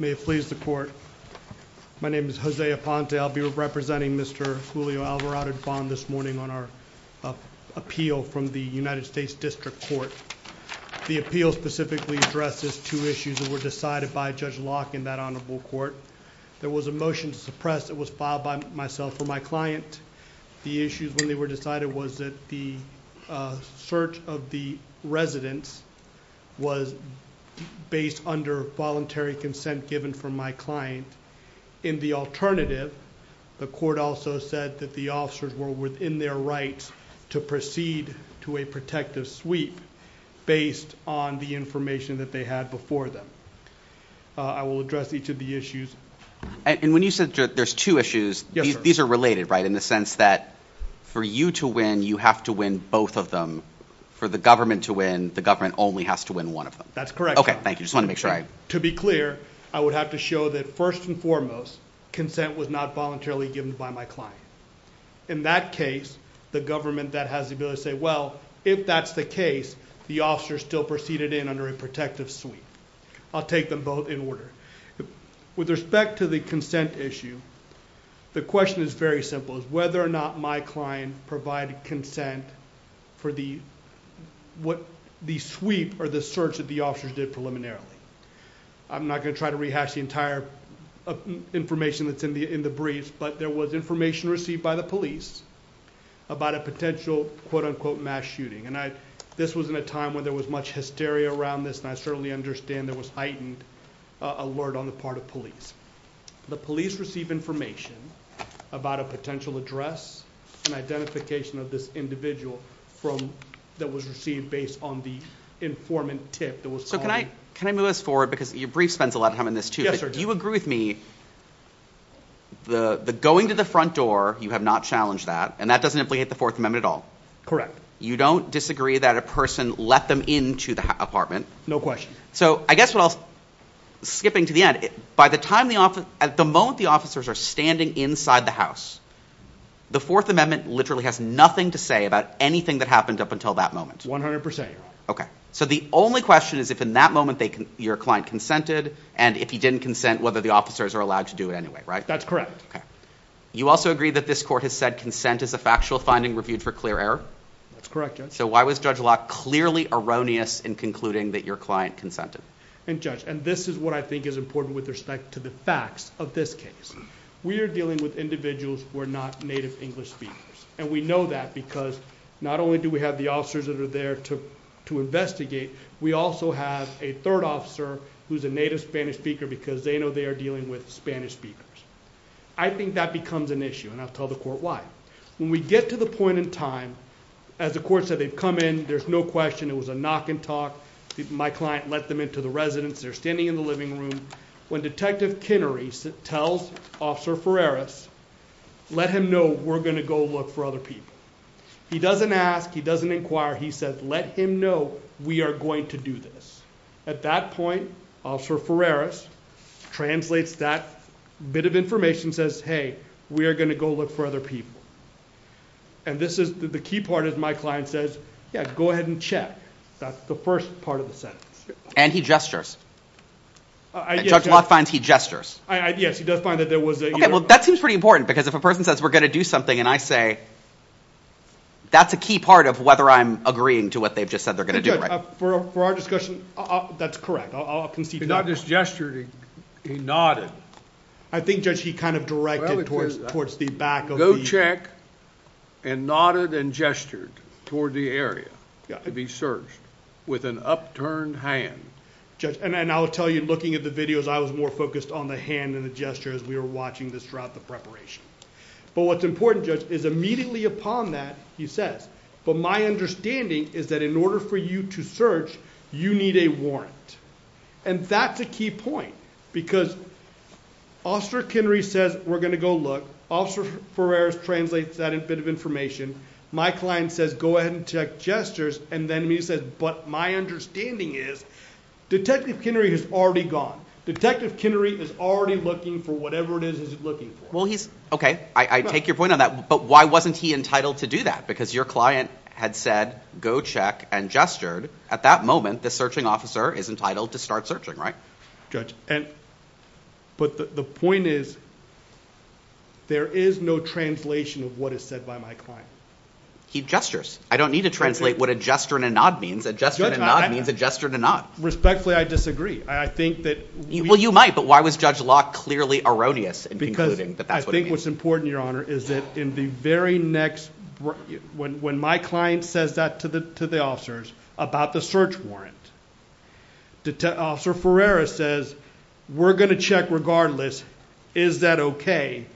May it please the court. My name is Jose Aponte. I'll be representing Mr. Julio Alvarado Dubon this morning on our appeal from the United States District Court. The appeal specifically addresses two issues that were decided by Judge Locke in that honorable court. There was a motion to suppress that was filed by myself for my client. The issues when they were decided was that the search of the residence was based under voluntary consent given from my client. In the alternative the court also said that the officers were within their rights to proceed to a protective sweep based on the information that they had before them. I will address each of the issues. And when you said there's two issues these are related right in the sense that for you to win you have to win both of them. For the government to win the government only has to win one of them. That's correct. Okay thank you just want to make sure. To be clear I would have to show that first and foremost consent was not voluntarily given by my client. In that case the government that has the ability to say well if that's the case the officer still proceeded in under a protective sweep. I'll take them both in order. With respect to the consent issue the question is very simple is whether or not my client provided consent for the what the sweep or the search that the officers did preliminarily. I'm not going to try to rehash the entire information that's in the in the briefs but there was information received by the police about a potential quote-unquote mass shooting. And I this was in a time when there was much hysteria around this and I certainly understand there was a heightened alert on the part of police. The police receive information about a potential address and identification of this individual from that was received based on the informant tip that was so can I can I move this forward because your brief spends a lot of time in this too but do you agree with me the the going to the front door you have not challenged that and that doesn't implicate the fourth amendment at all. Correct. You don't disagree that a person let them into the apartment. No question. So I guess what else skipping to the end by the time the office at the moment the officers are standing inside the house the fourth amendment literally has nothing to say about anything that happened up until that moment. 100 percent. Okay so the only question is if in that moment they can your client consented and if he didn't consent whether the officers are allowed to do it anyway right. That's correct. Okay you also agree that this court has said consent is a factual finding reviewed for clear error. That's correct. So why was Judge clearly erroneous in concluding that your client consented? And judge and this is what I think is important with respect to the facts of this case. We are dealing with individuals who are not native English speakers and we know that because not only do we have the officers that are there to to investigate we also have a third officer who's a native Spanish speaker because they know they are dealing with Spanish speakers. I think that becomes an issue and I'll tell the court why. When we get to the point in time as the court said they've come in there's no question it was a knock and talk. My client let them into the residence they're standing in the living room when detective Kennery tells officer Ferraris let him know we're going to go look for other people. He doesn't ask he doesn't inquire he says let him know we are going to do this. At that point officer Ferraris translates that bit of information says hey we are going to go look for other people. And this is the key part is my client says yeah go ahead and check. That's the first part of the sentence. And he gestures. Judge Locke finds he gestures. Yes he does find that there was. Okay well that seems pretty important because if a person says we're going to do something and I say that's a key part of whether I'm agreeing to what they've just said they're going to do. For our discussion that's correct. I'll concede. He not just gestured he nodded. I think judge he directed towards the back. Go check and nodded and gestured toward the area to be searched with an upturned hand. Judge and I'll tell you looking at the videos I was more focused on the hand and the gesture as we were watching this throughout the preparation. But what's important judge is immediately upon that he says but my understanding is that in order for you to search you need a warrant. And that's a key point because Officer Kennery says we're going to go look. Officer Ferrer translates that a bit of information. My client says go ahead and check gestures and then he says but my understanding is Detective Kennery has already gone. Detective Kennery is already looking for whatever it is he's looking for. Well he's okay I take your point on that but why wasn't he entitled to do that? Because your client had said go check and gestured at that moment the searching officer is entitled to start searching right? Judge and but the point is there is no translation of what is said by my client. He gestures. I don't need to translate what a gesture and a nod means. A gesture and a nod means a gesture and a nod. Respectfully I disagree. I think that well you might but why was Judge Locke clearly erroneous in concluding that that's what I think what's important your honor is that in the very next when when my client says that to the to the officers about the search warrant. Officer Ferreira says we're going to check regardless. Is that okay?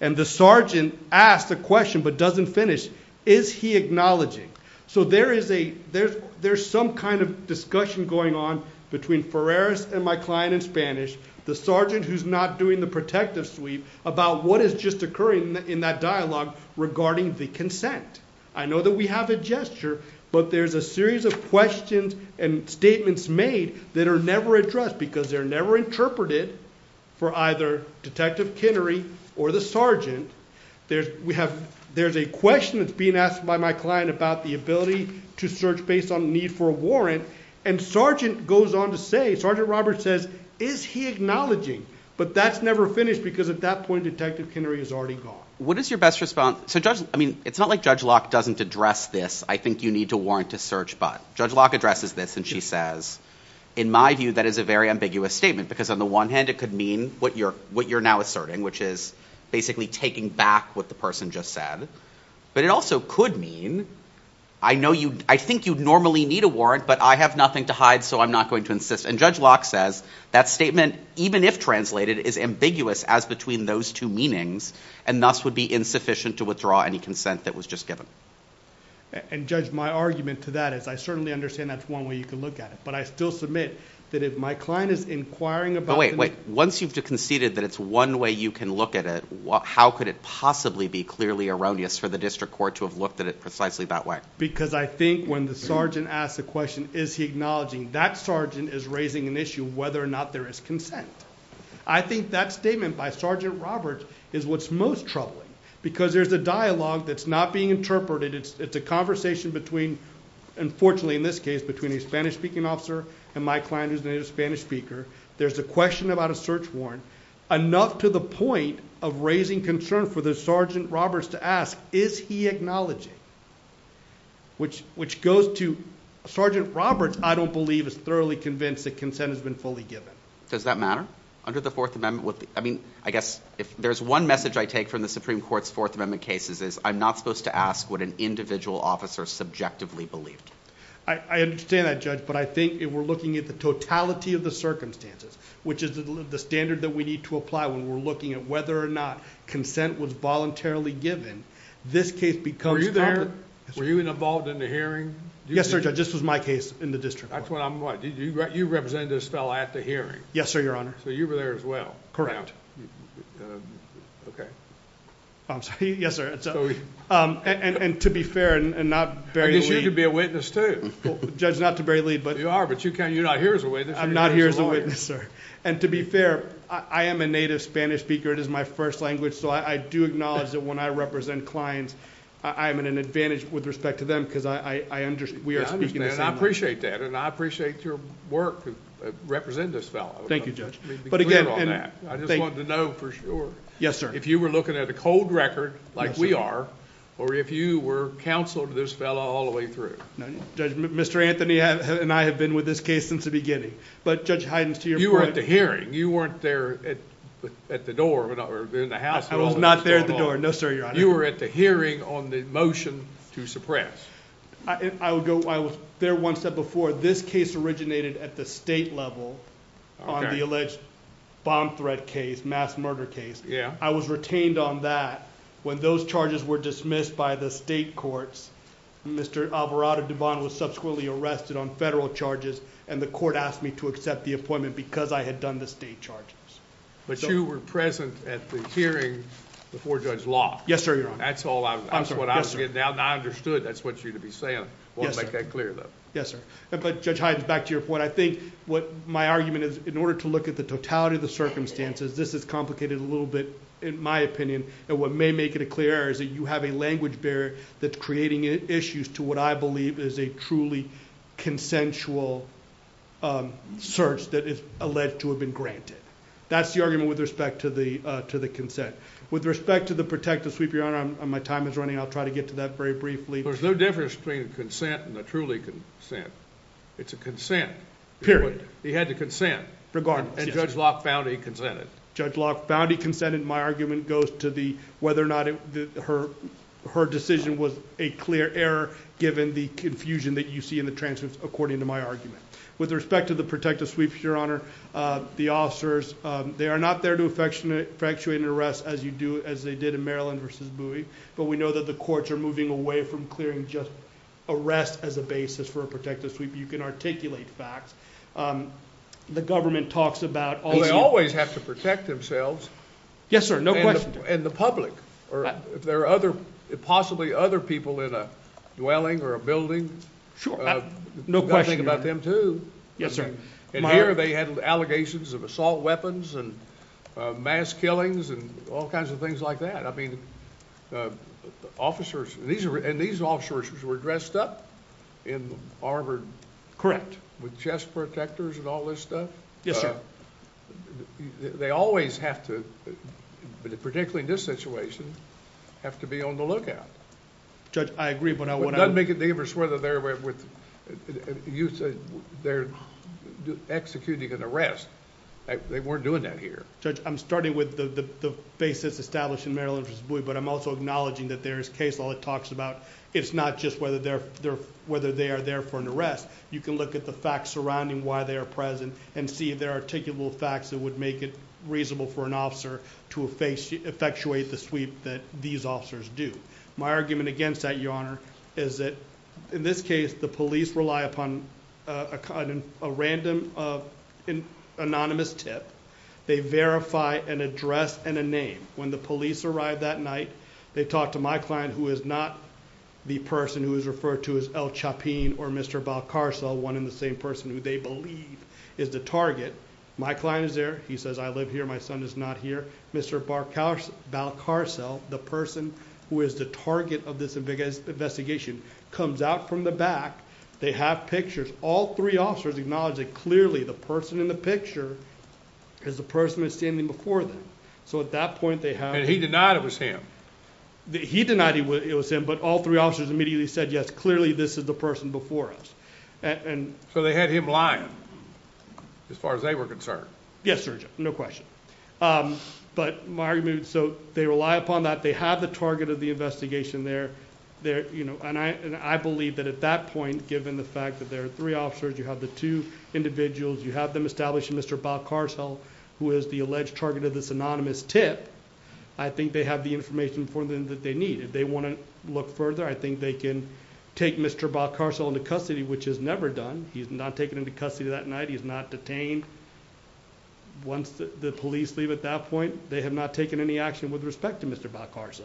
And the sergeant asked a question but doesn't finish. Is he acknowledging? So there is a there's there's some kind of discussion going on between Ferreira and my client in Spanish. The sergeant who's not doing the protective sweep about what is just occurring in that dialogue regarding the consent. I know that we have a gesture but there's a series of questions and statements made that are never addressed because they're never interpreted for either detective Kennery or the sergeant. There's we have there's a question that's being asked by my client about the ability to search based on the need for a warrant and sergeant goes on to say sergeant Roberts says is he acknowledging but that's never finished because at that point detective Kennery is already gone. What is your best response so judge I mean it's not like judge Locke doesn't address this I think you need to warrant to search but judge Locke addresses this and she says in my view that is a very ambiguous statement because on the one hand it could mean what you're what you're now asserting which is basically taking back what the person just said but it also could mean I know you I think you'd normally need a warrant but I have nothing to hide so I'm not going to insist and judge Locke says that statement even if translated is ambiguous as between those two meanings and thus would be insufficient to withdraw any consent that was just given and judge my argument to that is I certainly understand that's one way you can look at it but I still submit that if my client is inquiring about wait wait once you've conceded that it's one way you can look at it what how could it possibly be clearly erroneous for the district court to have looked at it precisely that way because I think when the sergeant asks the question is he acknowledging that sergeant is raising an issue whether or not there is consent I think that statement by sergeant roberts is what's most troubling because there's a dialogue that's not being interpreted it's it's a conversation between unfortunately in this case between a spanish-speaking officer and my client who's a native spanish speaker there's a question about a search warrant enough to the point of raising concern for the sergeant roberts to ask is he acknowledging which which goes to sergeant roberts I don't believe is thoroughly convinced that consent has been fully given does that matter under the fourth amendment I mean I guess if there's one message I take from the supreme court's fourth amendment cases is I'm not supposed to ask what an individual officer subjectively believed I understand that judge but I think if we're looking at the totality of the circumstances which is the standard that we need to apply when we're looking at whether or not consent was voluntarily given this case because were you there were you involved in the hearing yes sir judge this was my case in the you represent this fellow at the hearing yes sir your honor so you were there as well correct okay I'm sorry yes sir um and and to be fair and not very good to be a witness to judge not to bury lead but you are but you can you're not here as a witness I'm not here as a witness sir and to be fair I am a native spanish speaker it is my first language so I do acknowledge that when I represent clients I am an advantage with respect to them because I I understand we I appreciate that and I appreciate your work to represent this fellow thank you judge but again and I just wanted to know for sure yes sir if you were looking at a cold record like we are or if you were counsel to this fellow all the way through no judgment Mr. Anthony and I have been with this case since the beginning but judge Hydens to your you were at the hearing you weren't there at at the door or in the house I was not there at the door no sir your honor you were at hearing on the motion to suppress I would go I was there once that before this case originated at the state level on the alleged bomb threat case mass murder case yeah I was retained on that when those charges were dismissed by the state courts Mr. Alvarado Devon was subsequently arrested on federal charges and the court asked me to accept the appointment because I had done the state charges but you were present at the hearing before judge law yes sir your honor that's all I'm sure what I was getting out and I understood that's what you to be saying well make that clear though yes sir but judge Hines back to your point I think what my argument is in order to look at the totality of the circumstances this is complicated a little bit in my opinion and what may make it a clear error is that you have a language barrier that's creating issues to what I believe is a truly consensual um search that is alleged to have been granted that's the argument with respect to the uh to the consent with respect to the protective sweep your honor my time is running I'll try to get to that very briefly there's no difference between consent and a truly consent it's a consent period he had to consent regardless and judge Locke found he consented judge Locke found he consented my argument goes to the whether or not her her decision was a clear error given the confusion that you see in the your honor uh the officers um they are not there to effectuate an arrest as you do as they did in Maryland versus Bowie but we know that the courts are moving away from clearing just arrest as a basis for a protective sweep you can articulate facts um the government talks about all they always have to protect themselves yes sir no question and the public or if there are other possibly other people in a dwelling or a building sure no question about them too yes sir and here they had allegations of assault weapons and mass killings and all kinds of things like that I mean uh officers these are and these officers were dressed up in armored correct with chest protectors and all this stuff yes sir they always have to but particularly in this situation have to be on the lookout judge I agree but I want to make it dangerous whether they're with you said they're executing an arrest they weren't doing that here judge I'm starting with the the basis established in Maryland versus Bowie but I'm also acknowledging that there is case law that talks about it's not just whether they're there whether they are there for an arrest you can look at the facts surrounding why they are present and see if there are articulable facts that would make it reasonable for an officer to face effectuate the sweep that these officers do my argument against that your honor is that in this case the police rely upon a kind of a random of an anonymous tip they verify an address and a name when the police arrived that night they talked to my client who is not the person who is referred to as El Chapin or Mr. Balcarcel one in the same person who they believe is the target my client is there he says I live here my son is not here Mr. Balcarcel the person who is the target of this investigation comes out from the back they have pictures all three officers acknowledge that clearly the person in the picture is the person who's standing before them so at that point they have and he denied it was him he denied he would it was him but all three officers immediately said yes clearly this is the person before us and so they had him lying as far as they were concerned yes sir no question but my argument so they rely upon that they have the target of the investigation there there you know and I and I believe that at that point given the fact that there are three officers you have the two individuals you have them establishing Mr. Balcarcel who is the alleged target of this anonymous tip I think they have the information for them that they need if they want to look further I think they can take Mr. Balcarcel into custody which is never done he's not taken into custody that night he's not detained once the police leave at that point they have not taken any action with respect to Mr. Balcarcel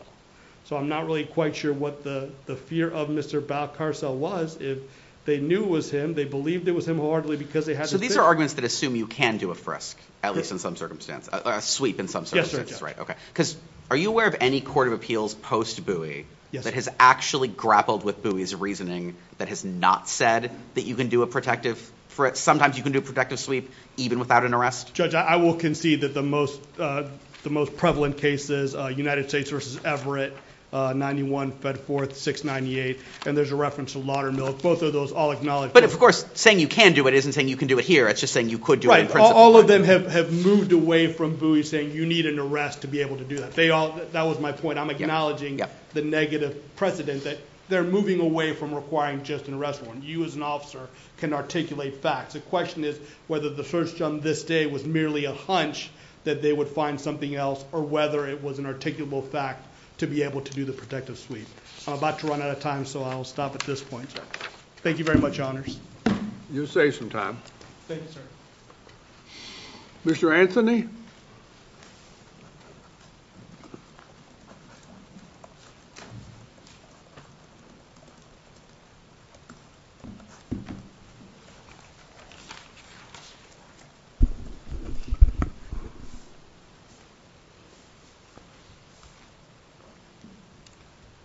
so I'm not really quite sure what the the fear of Mr. Balcarcel was if they knew was him they believed it was him hardly because they had so these are arguments that assume you can do a frisk at least in some circumstance a sweep in some circumstances right okay because are you aware of any court of appeals post buoy that has actually grappled with buoys reasoning that has not said that you can do a protective for it sometimes you can do protective sweep even without an arrest judge I will concede that the most uh the most prevalent cases uh United States versus Everett uh 91 fed forth 698 and there's a reference to laudermill both of those all acknowledged but of course saying you can do it isn't saying you can do it here it's just saying you could do it all of them have have moved away from buoy saying you need an arrest to be able to do that they all that was my point I'm acknowledging the negative precedent that they're moving away from requiring just an arrest warrant you as an officer can articulate facts the question is whether the search on this day was merely a hunch that they would find something else or whether it was an articulable fact to be able to do the protective sweep I'm about to run out of time so I'll stop at this point thank you very much honors you'll save some time thank you sir Mr. Anthony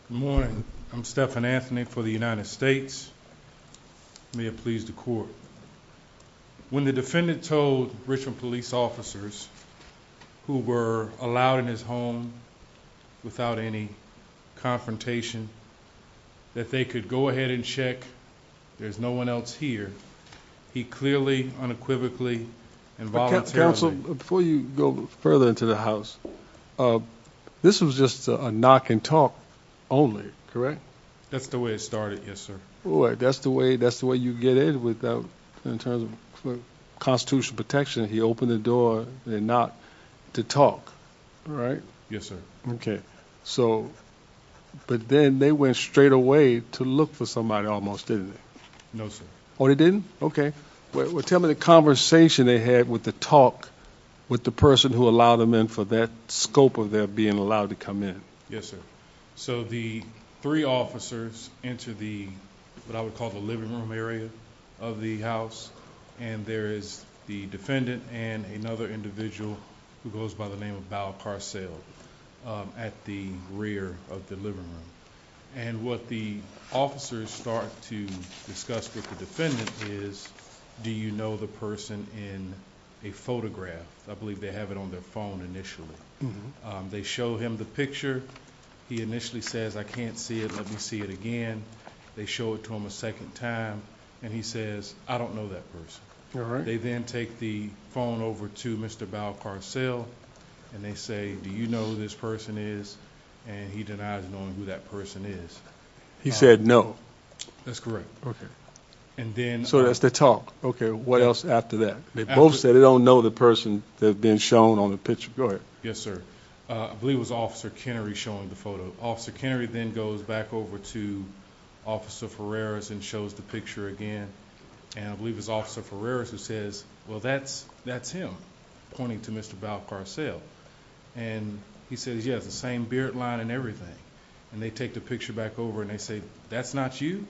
good morning I'm Stephan Anthony for the United States may it please the court when the defendant told Richmond police officers who were allowed in his home without any confrontation that they could go ahead and check there's no one else here he clearly unequivocally and voluntarily before you go further into the house uh this was just a knock and talk only correct that's the way it started yes sir oh that's the way that's the way you get in without in terms of constitutional protection he opened the door and not to talk all right yes sir okay so but then they went straight away to look for somebody almost didn't they no sir or they didn't okay well tell me the conversation they had with the talk with the person who allowed them in for that scope of their being allowed to come in yes sir so the three officers enter the what I would call the living room area of the house and there is the defendant and another individual who goes by the name of Val Carsell at the rear of the living room and what the officers start to discuss with the defendant is do you know the person in a photograph I believe they have it on their phone initially they show him the picture he initially says I can't see it let me see it again they show it to him a second time and he says I don't know that person all right they then take the phone over to Mr. Val Carsell and they say do you know who this person is and he denies knowing who that person is he said no that's correct okay and then so that's the talk okay what else after that they both said they don't know the person they've been shown on the picture go ahead yes sir uh I believe it was Officer Kennery showing the photo Officer Kennery then goes back over to Officer Ferreras and shows the picture again and I believe it's Officer Ferreras who says well that's that's him pointing to Mr. Val Carsell and he says yes the same beard line and everything and they take the picture back over and they say that's not you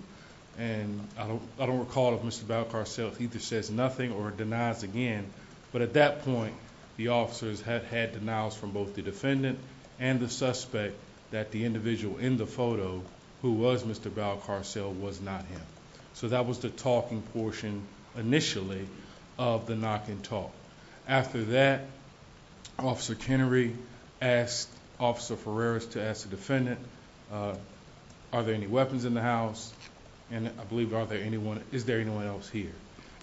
and I don't I don't recall if Mr. Val Carsell either says nothing or denies again but at that point the officers had had denials from both the defendant and the suspect that the individual in the photo who was Mr. Val Carsell was not him so that was the talking portion initially of the knock and talk after that Officer Kennery asked Officer Ferreras to ask the defendant uh are there any weapons in the house and I believe are there anyone is there anyone else here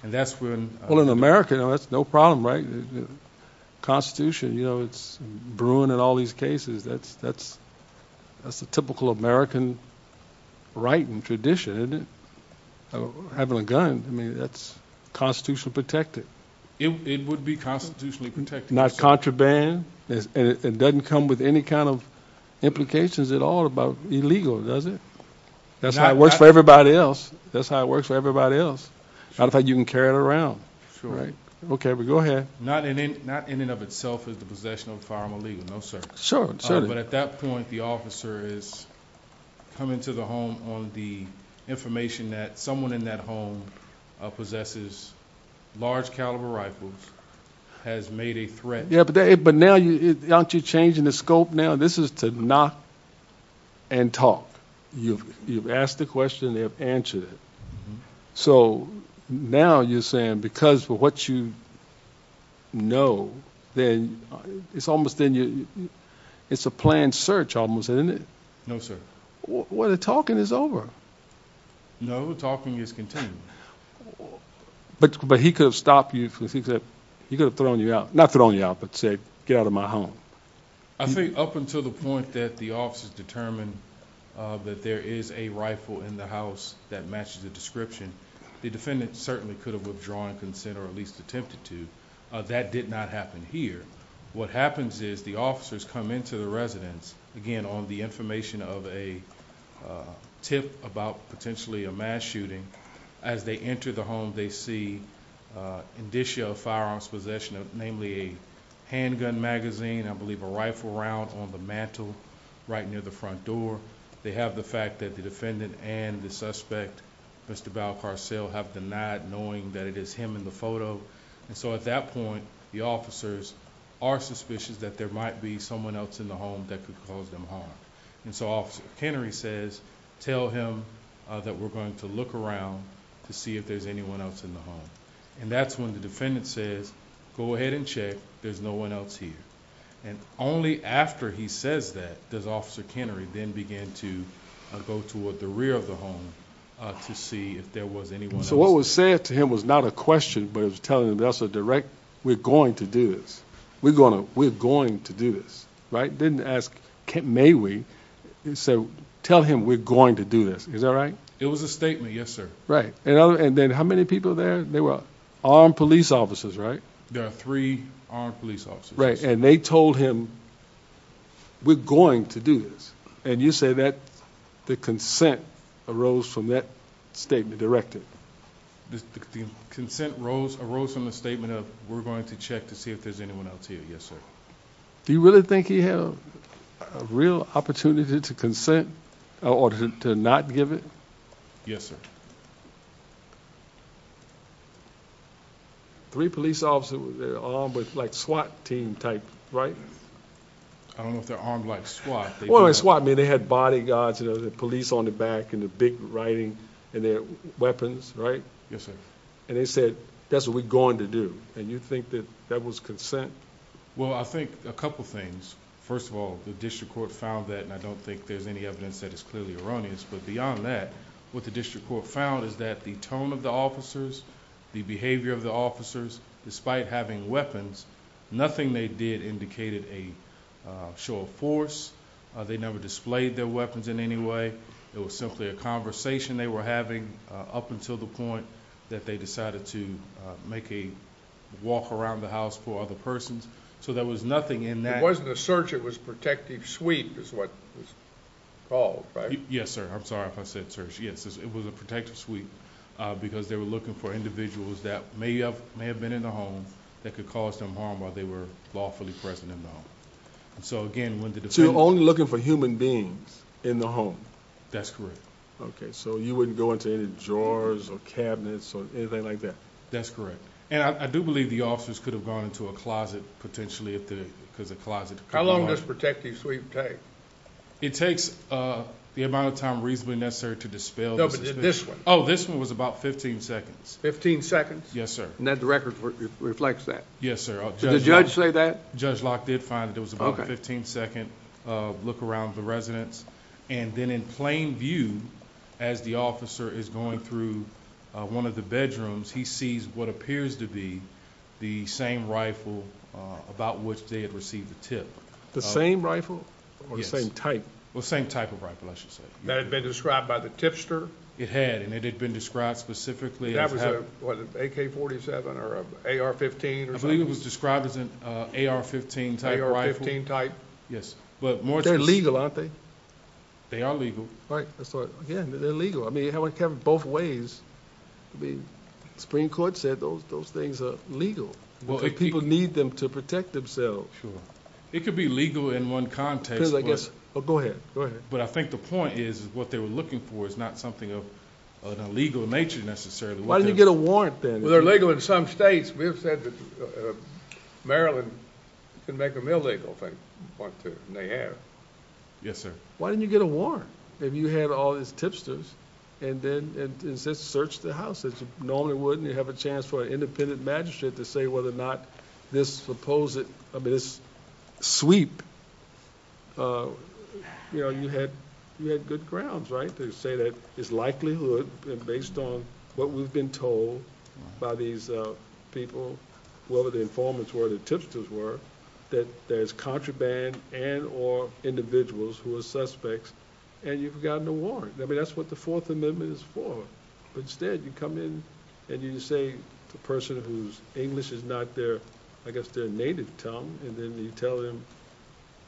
and that's when well in America that's no problem right the Constitution you know it's brewing in all these cases that's that's that's the typical American writing tradition of having a gun I mean that's constitutionally protected it would be constitutionally protected not contraband it doesn't come with any kind of implications at all about illegal does it that's how it works for everybody else that's how it works for everybody else not if you can carry it around right okay but go ahead not in it not in and of itself is the possession of firearm illegal no sir sure but at that point the officer is coming to the home on the information that someone in that home possesses large caliber rifles has made a threat yeah but now you aren't you changing the scope now this is to knock and talk you've you've asked the question they have answered it so now you're saying because for what you know then it's almost then you it's a planned search almost isn't it no sir well the talking is over no talking is continuing but but he could have stopped you because he said he could have thrown you out not thrown you out but say get out of my home I think up until the point that the officers determined uh that there is a rifle in the house that matches the description the defendant certainly could have drawn consent or at least attempted to that did not happen here what happens is the officers come into the residence again on the information of a tip about potentially a mass shooting as they enter the home they see uh indicia of firearms possession of namely a handgun magazine I believe a rifle round on the mantle right near the front door they have the fact that the and the suspect Mr. Val Carsell have denied knowing that it is him in the photo and so at that point the officers are suspicious that there might be someone else in the home that could cause them harm and so officer Kennery says tell him that we're going to look around to see if there's anyone else in the home and that's when the defendant says go ahead and check there's no one and only after he says that does officer Kennery then begin to go toward the rear of the home to see if there was anyone so what was said to him was not a question but it was telling him that's a direct we're going to do this we're gonna we're going to do this right didn't ask may we so tell him we're going to do this is that right it was a statement yes sir right and other and then how many people there they were armed police officers right there are three armed police right and they told him we're going to do this and you say that the consent arose from that statement directed the consent rose arose from the statement of we're going to check to see if there's anyone else here yes sir do you really think he had a real opportunity to consent or to not give it yes sir three police officers they're armed with like SWAT team type right i don't know if they're armed like SWAT well it's why i mean they had bodyguards you know the police on the back and the big writing and their weapons right yes sir and they said that's what we're going to do and you think that that was consent well i think a couple things first of all the district court found that and i don't think there's any evidence that is clearly erroneous but beyond that what the district court found is that the tone of the officers the behavior of the officers despite having weapons nothing they did indicated a show of force they never displayed their weapons in any way it was simply a conversation they were having up until the point that they decided to make a walk around the house for other persons so there was nothing in that it wasn't a search it was protective suite is what was called right yes sir i'm sorry if i said search yes it was a protective suite uh because they were looking for individuals that may have may have been in the home that could cause them harm while they were lawfully present in the home and so again when the only looking for human beings in the home that's correct okay so you wouldn't go into any drawers or cabinets or anything like that that's correct and i do believe the officers could have gone into a closet potentially if the because the closet how long does protective sweep take it takes uh the amount of time reasonably necessary to dispel this one oh this one was about 15 seconds 15 seconds yes sir and that the record reflects that yes sir did the judge say that judge lock did find it was about a 15 second uh look around the residence and then in plain view as the officer is going through uh one of the bedrooms he sees what appears to be the same rifle uh about which they had received the tip the same rifle or the same type well same type of rifle i should say that had been described by the tipster it had and it had been described specifically that was a what ak-47 or ar-15 or i believe it was described as an uh ar-15 type 15 type yes but more they're aren't they they are legal right that's right again they're legal i mean you have both ways to be supreme court said those those things are legal well if people need them to protect themselves sure it could be legal in one context because i guess oh go ahead go ahead but i think the point is what they were looking for is not something of an illegal nature necessarily why did you get a warrant then well they're legal in some states we have said that uh maryland can make a male legal thing one two and they have yes sir why didn't you get a warrant if you had all these tipsters and then and search the house that you normally wouldn't have a chance for an independent magistrate to say whether or not this supposed i mean this sweep uh you know you had you had good grounds right to say that it's likelihood based on what we've been told by these uh people whether the informants were the tipsters were that there's contraband and or individuals who are suspects and you've gotten a warrant i mean that's what the fourth amendment is for but instead you come in and you say the person whose english is not their i guess their native tongue and then you tell him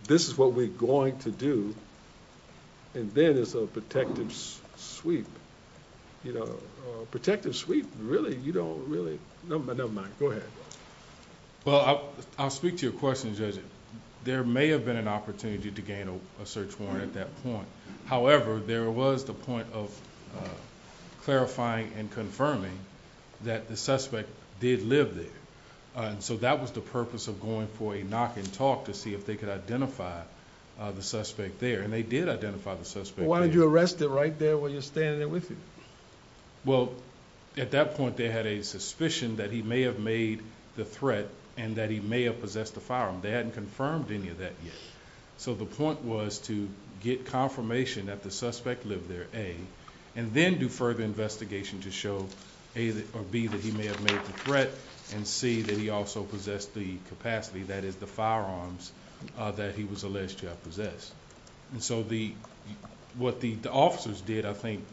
this is what we're going to do and then it's a protective sweep you know protective sweep really you don't really never mind go ahead well i'll speak to your question judge there may have been an opportunity to gain a search warrant at that point however there was the point of clarifying and confirming that the suspect did live there and so that was the purpose of going for a knock and talk to see if they could identify the suspect there and they did identify the suspect why did you arrest it right there while you're standing there with you well at that point they had a suspicion that he may have made the threat and that he may have possessed the firearm they hadn't confirmed any of that yet so the point was to get confirmation that the suspect lived there a and then do further investigation to show a or b that he may have made the threat and c that he also possessed the capacity that is the firearms uh that he was possessed and so the what the officers did i think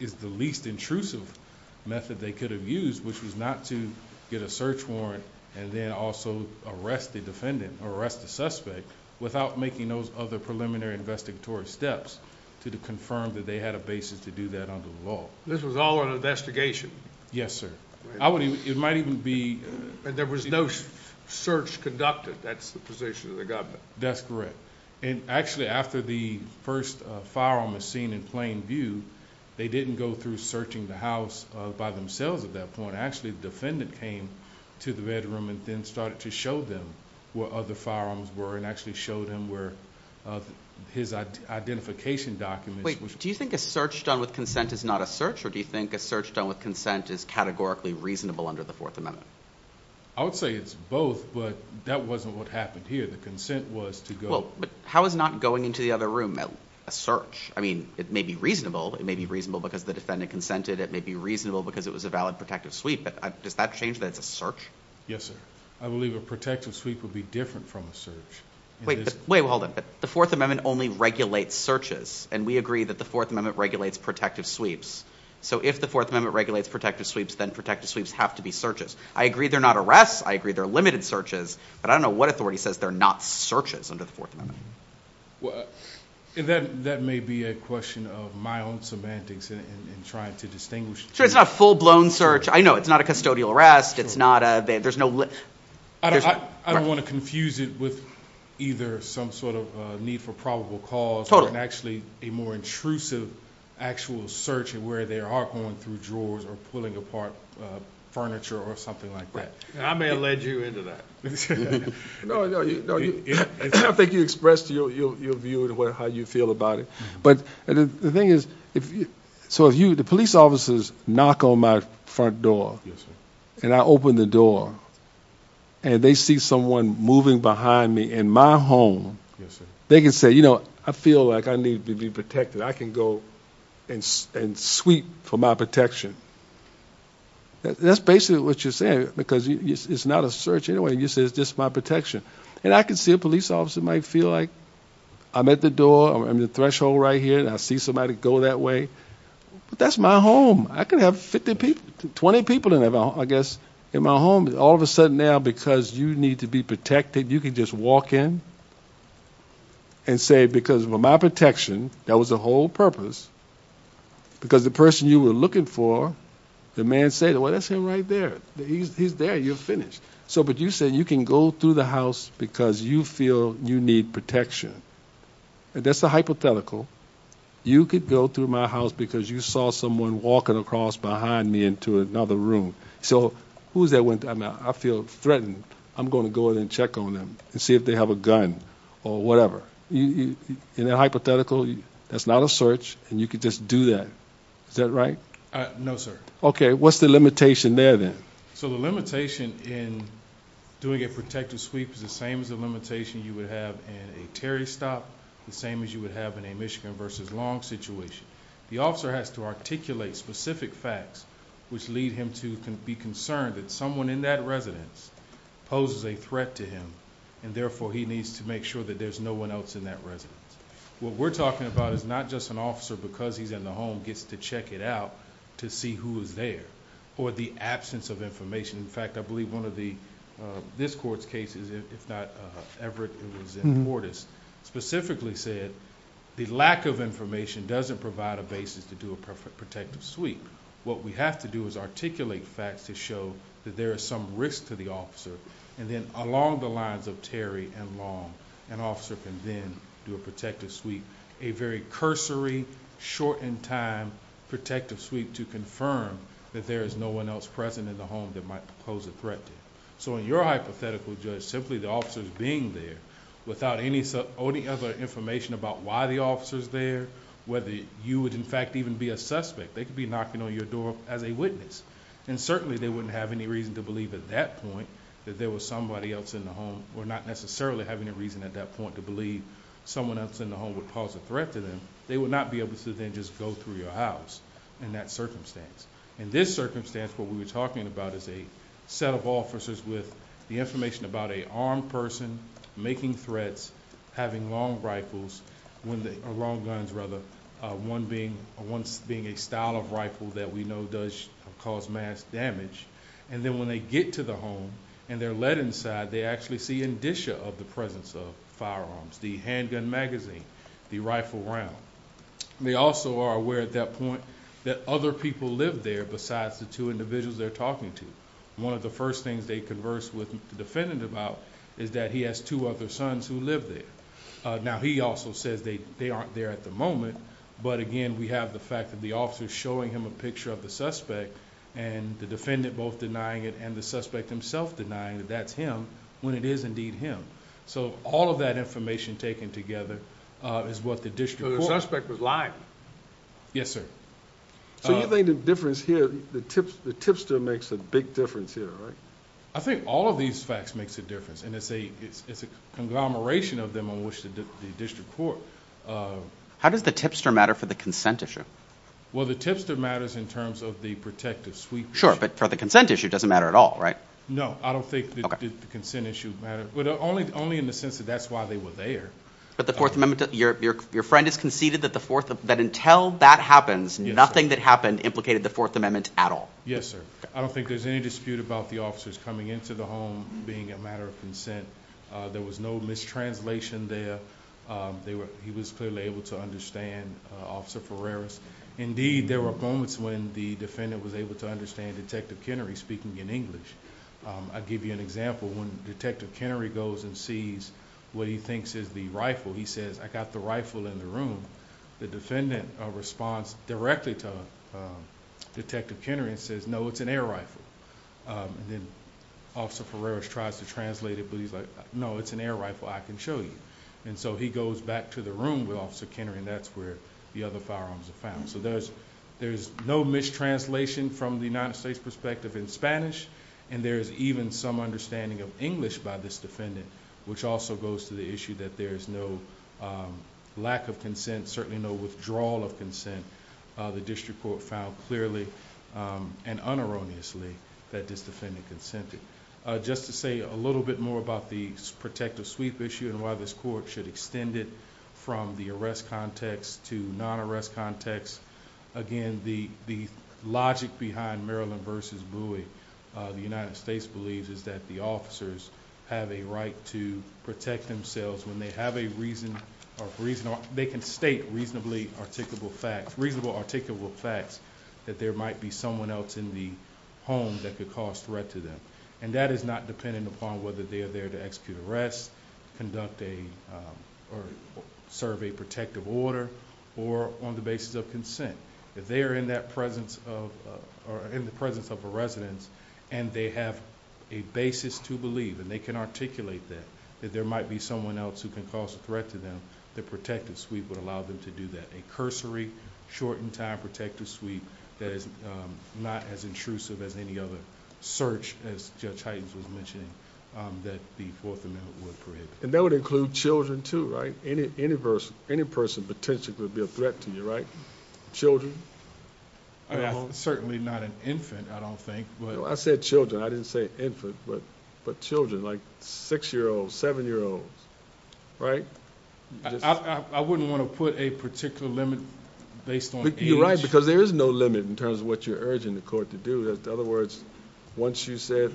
is the least intrusive method they could have used which was not to get a search warrant and then also arrest the defendant or arrest the suspect without making those other preliminary investigatory steps to confirm that they had a basis to do that under the law this was all an investigation yes sir i wouldn't it might even be and there was no search conducted that's the position of the government that's correct and actually after the first firearm was seen in plain view they didn't go through searching the house by themselves at that point actually the defendant came to the bedroom and then started to show them what other firearms were and actually showed him where his identification documents wait do you think a search done with consent is not a search or do you think a search done with consent is categorically reasonable under the fourth amendment i would say it's both but that wasn't what happened here the consent was to go but how is not going into the other room a search i mean it may be reasonable it may be reasonable because the defendant consented it may be reasonable because it was a valid protective sweep but does that change that it's a search yes sir i believe a protective sweep would be different from a search wait wait hold on the fourth amendment only regulates searches and we agree that the fourth amendment regulates protective sweeps so if the fourth amendment regulates protective sweeps then protective sweeps have to be searches i agree they're not arrests i agree they're limited searches but i don't know what authority says they're not searches under the fourth amendment well that that may be a question of my own semantics and trying to distinguish sure it's not full-blown search i know it's not a custodial arrest it's not a there's no i don't want to confuse it with either some sort of need for probable cause and actually a more intrusive actual search and where they are going through drawers or pulling apart furniture or something like that i may have led you into that no no i think you expressed your your view to what how you feel about it but the thing is if so if you the police officers knock on my front door yes sir and i open the door and they see someone moving behind me in my home they can say you know i feel like i need to be protected i can go and and sweep for my protection that's basically what you're saying because it's not a search anyway you say it's just my protection and i can see a police officer might feel like i'm at the door i'm the threshold right here and i see somebody go that way but that's my home i can have 50 people 20 people in i guess in my home all of a sudden now because you need to be protected you can just walk in and say because of my protection that was the whole purpose because the person you were looking for the man said well that's him right there he's there you're finished so but you said you can go through the house because you feel you need protection that's a hypothetical you could go through my house because you saw someone walking across behind me into another room so who's that went i mean i feel threatened i'm going to go in and check on them and see if they have a gun or whatever you in that hypothetical that's not a search and you could just do that is that right uh no sir okay what's the limitation there then so the limitation in doing a protective sweep is the same as the limitation you would have in a terry stop the same as you would have in a michigan versus long situation the officer has to articulate specific facts which lead him to be concerned that someone in that residence poses a threat to him and therefore he needs to make sure that there's no one else in that residence what we're talking about is not just an officer because he's in the home gets to check it to see who is there or the absence of information in fact i believe one of the this court's cases if not ever it was in mortis specifically said the lack of information doesn't provide a basis to do a perfect protective sweep what we have to do is articulate facts to show that there is some risk to the officer and then along the lines of terry and long an officer can then do a protective sweep a very cursory short in time protective sweep to confirm that there is no one else present in the home that might pose a threat to you so in your hypothetical judge simply the officers being there without any or any other information about why the officer's there whether you would in fact even be a suspect they could be knocking on your door as a witness and certainly they wouldn't have any reason to believe at that point that there was somebody else in the someone else in the home would cause a threat to them they would not be able to then just go through your house in that circumstance in this circumstance what we were talking about is a set of officers with the information about a armed person making threats having long rifles when they are long guns rather uh one being once being a style of rifle that we know does cause mass damage and then when they get to the home and they're let inside they actually see of the presence of firearms the handgun magazine the rifle round they also are aware at that point that other people live there besides the two individuals they're talking to one of the first things they converse with the defendant about is that he has two other sons who live there now he also says they they aren't there at the moment but again we have the fact that the officer showing him a picture of the suspect and the defendant both denying it and the suspect himself denying that that's him when it is indeed him so all of that information taken together uh is what the district suspect was lying yes sir so you think the difference here the tips the tipster makes a big difference here right i think all of these facts makes a difference and it's a it's a conglomeration of them on which the district court uh how does the tipster matter for the consent issue well the tipster matters in terms of the protective sweep sure but for the consent issue doesn't matter at all right no i don't think the consent issue matter but only only in the sense that that's why they were there but the fourth amendment your your friend has conceded that the fourth that until that happens nothing that happened implicated the fourth amendment at all yes sir i don't think there's any dispute about the officers coming into the home being a matter of consent uh there was no mistranslation there um they were he was clearly able to understand officer ferreris indeed there were moments when the defendant was able to understand detective kennery speaking in english i'll give you an example when detective kennery goes and sees what he thinks is the rifle he says i got the rifle in the room the defendant responds directly to detective kennery and says no it's an air rifle and then officer ferreris tries to translate it but he's like no it's an air rifle i can show you and so he goes back to the room with officer kennery and that's where the other firearms are found so there's there's no mistranslation from the united states perspective in spanish and there's even some understanding of english by this defendant which also goes to the issue that there is no um lack of consent certainly no withdrawal of consent uh the district court found clearly um and unerroneously that this defendant consented uh just to say a little bit more about the protective sweep issue and why this court should extend it from the arrest context to non-arrest context again the the logic behind maryland versus buoy uh the united states believes is that the officers have a right to protect themselves when they have a reason or reason they can state reasonably articulable facts reasonable articulable facts that there might be someone else in the home that could cause threat and that is not dependent upon whether they are there to execute arrests conduct a or serve a protective order or on the basis of consent if they are in that presence of or in the presence of a residence and they have a basis to believe and they can articulate that that there might be someone else who can cause a threat to them the protective sweep would allow them to do that a shortened time protective sweep that is not as intrusive as any other search as judge heightens was mentioning um that the fourth amendment would prohibit and that would include children too right any any verse any person potentially be a threat to you right children certainly not an infant i don't think well i said children i didn't say infant but but children like six year olds seven year olds right i wouldn't want to put a particular limit based on you're right because there is no limit in terms of what you're urging the court to do in other words once you said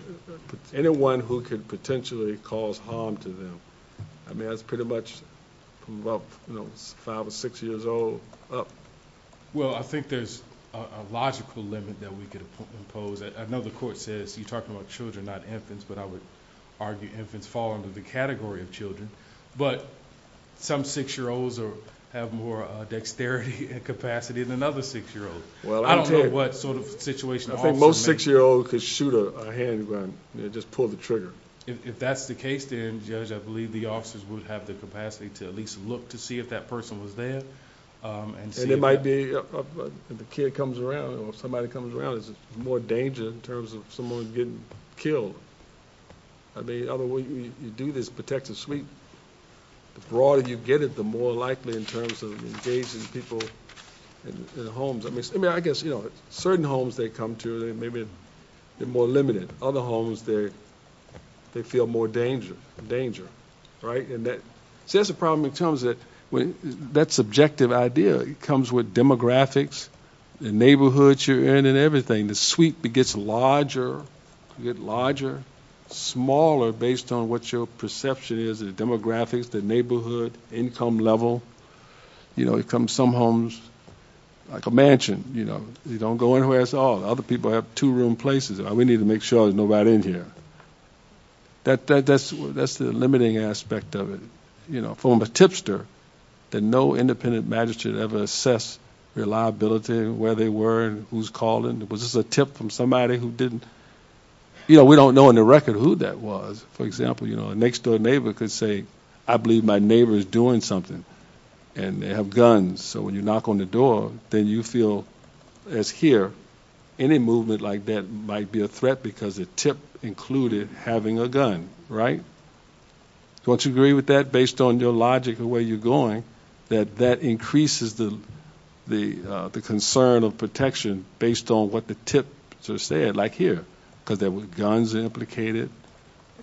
anyone who could potentially cause harm to them i mean that's pretty much about you know five or six years old up well i think there's a logical limit that we could impose i know the court says you're talking about children not infants but i would argue infants fall under the category of children but some six-year-olds or have more uh dexterity and capacity than another six-year-old well i don't know what sort of situation almost six-year-old could shoot a handgun just pull the trigger if that's the case then judge i believe the officers would have the capacity to at least look to see if that person was there um and it might be if the kid comes around or somebody comes around there's more danger in terms of someone getting killed i mean other way you do this protective suite the broader you get it the more likely in terms of engaging people in the homes i mean i guess you know certain homes they come to they maybe they're more limited other homes they they feel more danger danger right and that says the problem terms that when that subjective idea it comes with demographics the neighborhoods you're in and everything the suite gets larger you get larger smaller based on what your perception is the demographics the neighborhood income level you know it comes some homes like a mansion you know you don't go anywhere at all other people have two room places we need to make sure there's right in here that that's that's the limiting aspect of it you know from a tipster that no independent magistrate ever assess reliability where they were who's calling was this a tip from somebody who didn't you know we don't know in the record who that was for example you know next door neighbor could say i believe my neighbor is doing something and they have guns so when you having a gun right don't you agree with that based on your logic of where you're going that that increases the the uh the concern of protection based on what the tip sort of said like here because there were guns implicated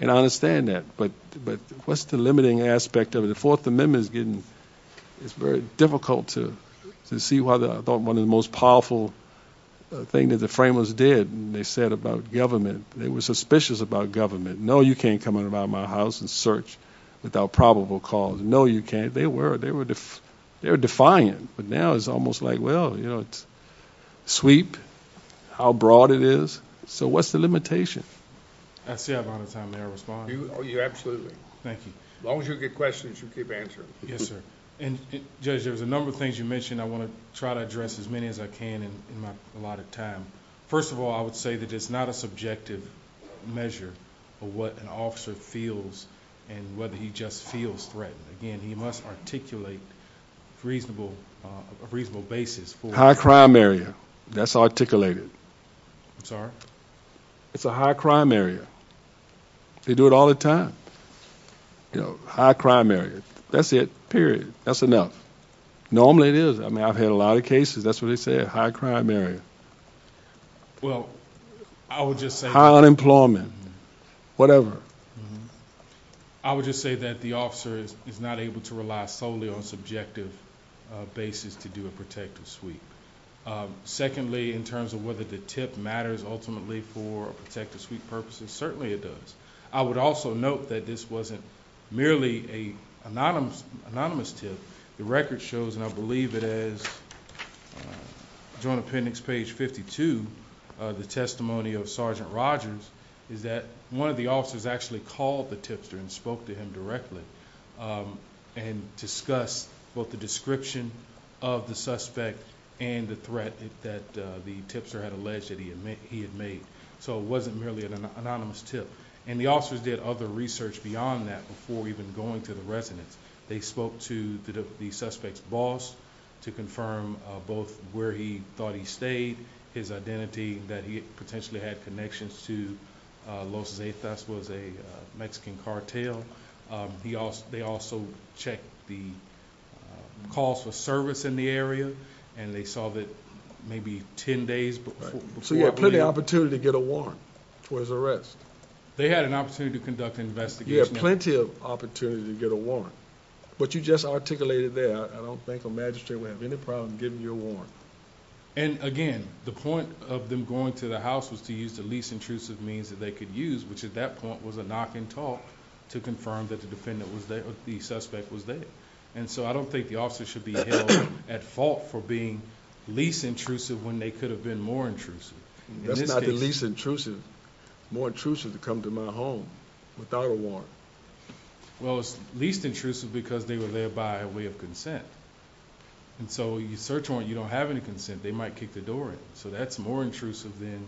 and i understand that but but what's the limiting aspect of the fourth amendment is getting it's very difficult to to see why the i thought one most powerful thing that the framers did they said about government they were suspicious about government no you can't come around my house and search without probable cause no you can't they were they were they were defying but now it's almost like well you know it's sweep how broad it is so what's the limitation i see a lot of time may i respond oh yeah absolutely thank you as long as you get questions you keep answering yes sir and judge there's a number of things you i want to try to address as many as i can in my a lot of time first of all i would say that it's not a subjective measure of what an officer feels and whether he just feels threatened again he must articulate reasonable uh a reasonable basis for high crime area that's articulated i'm sorry it's a high crime area they do it all the time you know high crime area that's it period that's normally it is i mean i've had a lot of cases that's what they say a high crime area well i would just say high unemployment whatever i would just say that the officer is not able to rely solely on subjective basis to do a protective sweep secondly in terms of whether the tip matters ultimately for a protective sweep purposes certainly it does i would also note that this wasn't merely a anonymous anonymous tip the record shows and i believe it is joint appendix page 52 the testimony of sergeant rogers is that one of the officers actually called the tipster and spoke to him directly and discussed both the description of the suspect and the threat that the tipster had alleged that he had made he had made so it wasn't merely an anonymous tip and the officers did other research beyond that before even going to the residence they spoke to the the suspect's boss to confirm both where he thought he stayed his identity that he potentially had connections to los zetas was a mexican cartel he also they also checked the calls for service in the area and they saw that maybe 10 days before so you had plenty opportunity to get a warrant for his arrest they had an opportunity to conduct an investigation you have plenty of opportunity to get a warrant but you just articulated that i don't think the magistrate would have any problem giving you a warrant and again the point of them going to the house was to use the least intrusive means that they could use which at that point was a knock and talk to confirm that the defendant was there the suspect was there and so i don't think the officer should be held at fault for being least intrusive when they could have been more intrusive that's not the least intrusive more intrusive to come to my home without a warrant well it's least intrusive because they were there by a way of consent and so you search on you don't have any consent they might kick the door in so that's more intrusive than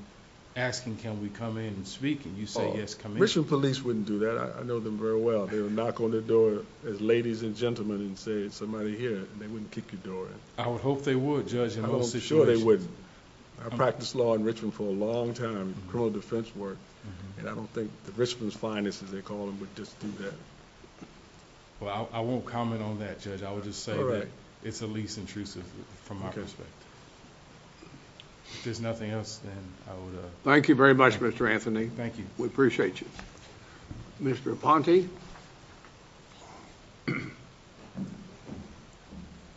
asking can we come in and speak and you say yes commission police wouldn't do that i know them very well they'll knock on the door as ladies and gentlemen and say somebody here they wouldn't kick your door i would hope they would judge i'm sure they would i practice law in richmond for a long time criminal defense work and i don't think the richmond's finest as they call them would just do that well i won't comment on that judge i would just say that it's the least intrusive from my perspective if there's nothing else then i would uh thank you very much mr anthony thank we appreciate you mr aponte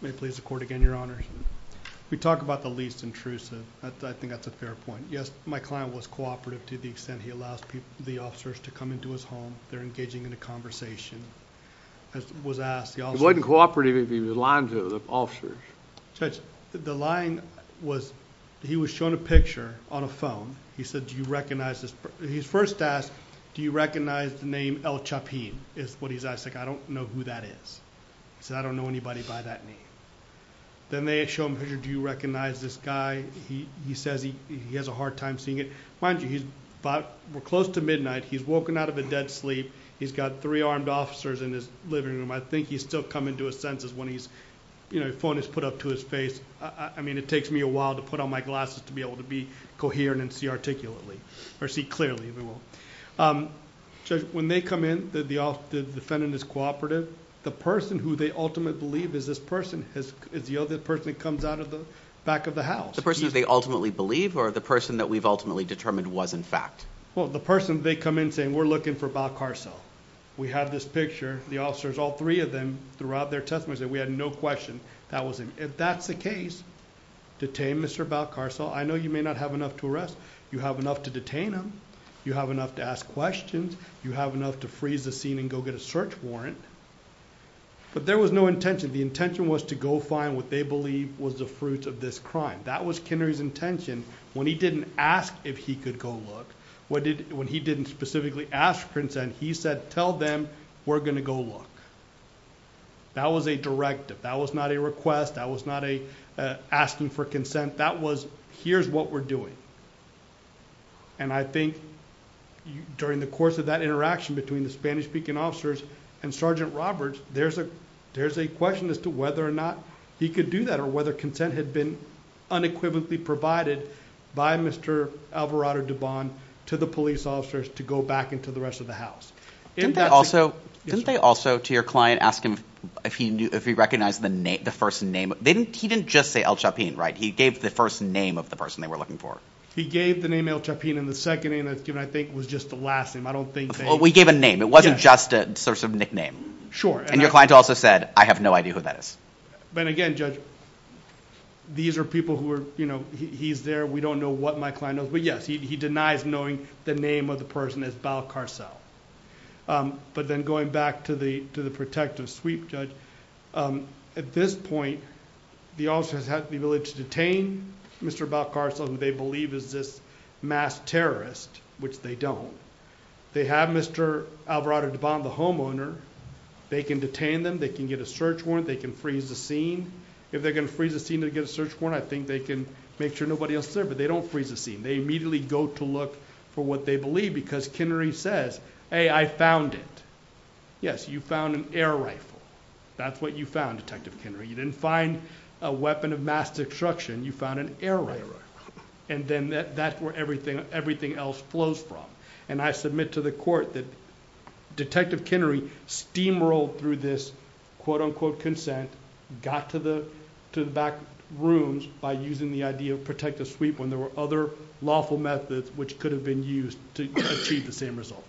may please accord again your honor we talk about the least intrusive i think that's a fair point yes my client was cooperative to the extent he allows people the officers to come into his home they're engaging in a conversation as was asked he wasn't cooperative if he was lying to the officers judge the line was he was shown a picture on a phone he said do you recognize this he's first asked do you recognize the name el chapin is what he's asked like i don't know who that is he said i don't know anybody by that name then they show him here do you recognize this guy he he says he he has a hard time seeing it mind you he's about we're close to midnight he's woken out of a dead sleep he's got three armed officers in his living room i think he's still coming to senses when he's you know phone is put up to his face i mean it takes me a while to put on my glasses to be able to be coherent and see articulately or see clearly we will um judge when they come in that the off the defendant is cooperative the person who they ultimately believe is this person is the other person that comes out of the back of the house the person that they ultimately believe or the person that we've ultimately determined was in fact well the person they come in saying we're looking for about car cell we have this picture the officers all three of them throughout their testimony said we had no question that wasn't if that's the case detained mr about car cell i know you may not have enough to arrest you have enough to detain them you have enough to ask questions you have enough to freeze the scene and go get a search warrant but there was no intention the intention was to go find what they believe was the fruits of this crime that was kennery's intention when he didn't ask if he could go look what did when he didn't specifically ask for consent he said tell them we're going to go look that was a directive that was not a request that was not a asking for consent that was here's what we're doing and i think during the course of that interaction between the spanish-speaking officers and sergeant roberts there's a there's a question as to whether or not he could do that or whether consent had been unequivocally provided by mr alvarado dubon to the police officers to go back into the rest of the house didn't that also didn't they also to your client ask him if he knew if he recognized the name the first name they didn't he didn't just say el chapin right he gave the first name of the person they were looking for he gave the name el chapin and the second name that's given i think was just the last name i don't think well we gave a name it wasn't just a source of nickname sure and your client also said i have no idea who that is but again judge these are people who are you know he's there we don't know what my client knows but yes he denies knowing the name of the person is balcarcel um but then going back to the to the protective sweep judge um at this point the officer has had the ability to detain mr balcarcel and they believe is this mass terrorist which they don't they have mr alvarado dubon the homeowner they can detain them they can get a search warrant they can freeze the scene if they're going to freeze the scene to get a search warrant i think they can make sure nobody else there but they don't freeze the scene they immediately go to look for what they believe because kennery says hey i found it yes you found an air rifle that's what you found detective kennery you didn't find a weapon of mass destruction you found an error and then that that's where everything everything else flows from and i submit to the court that detective kennery steamrolled through this quote unquote consent got to the to the back rooms by using the idea of protective sweep when there were other lawful methods which could have been used to achieve the same result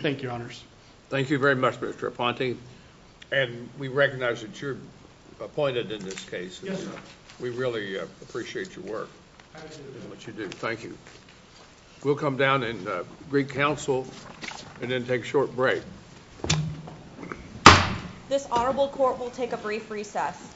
thank your honors thank you very much mr aponte and we recognize that you're appointed in this case we really appreciate your work absolutely what you do thank you we'll come down in greek council and then take a short break this honorable court will take a brief recess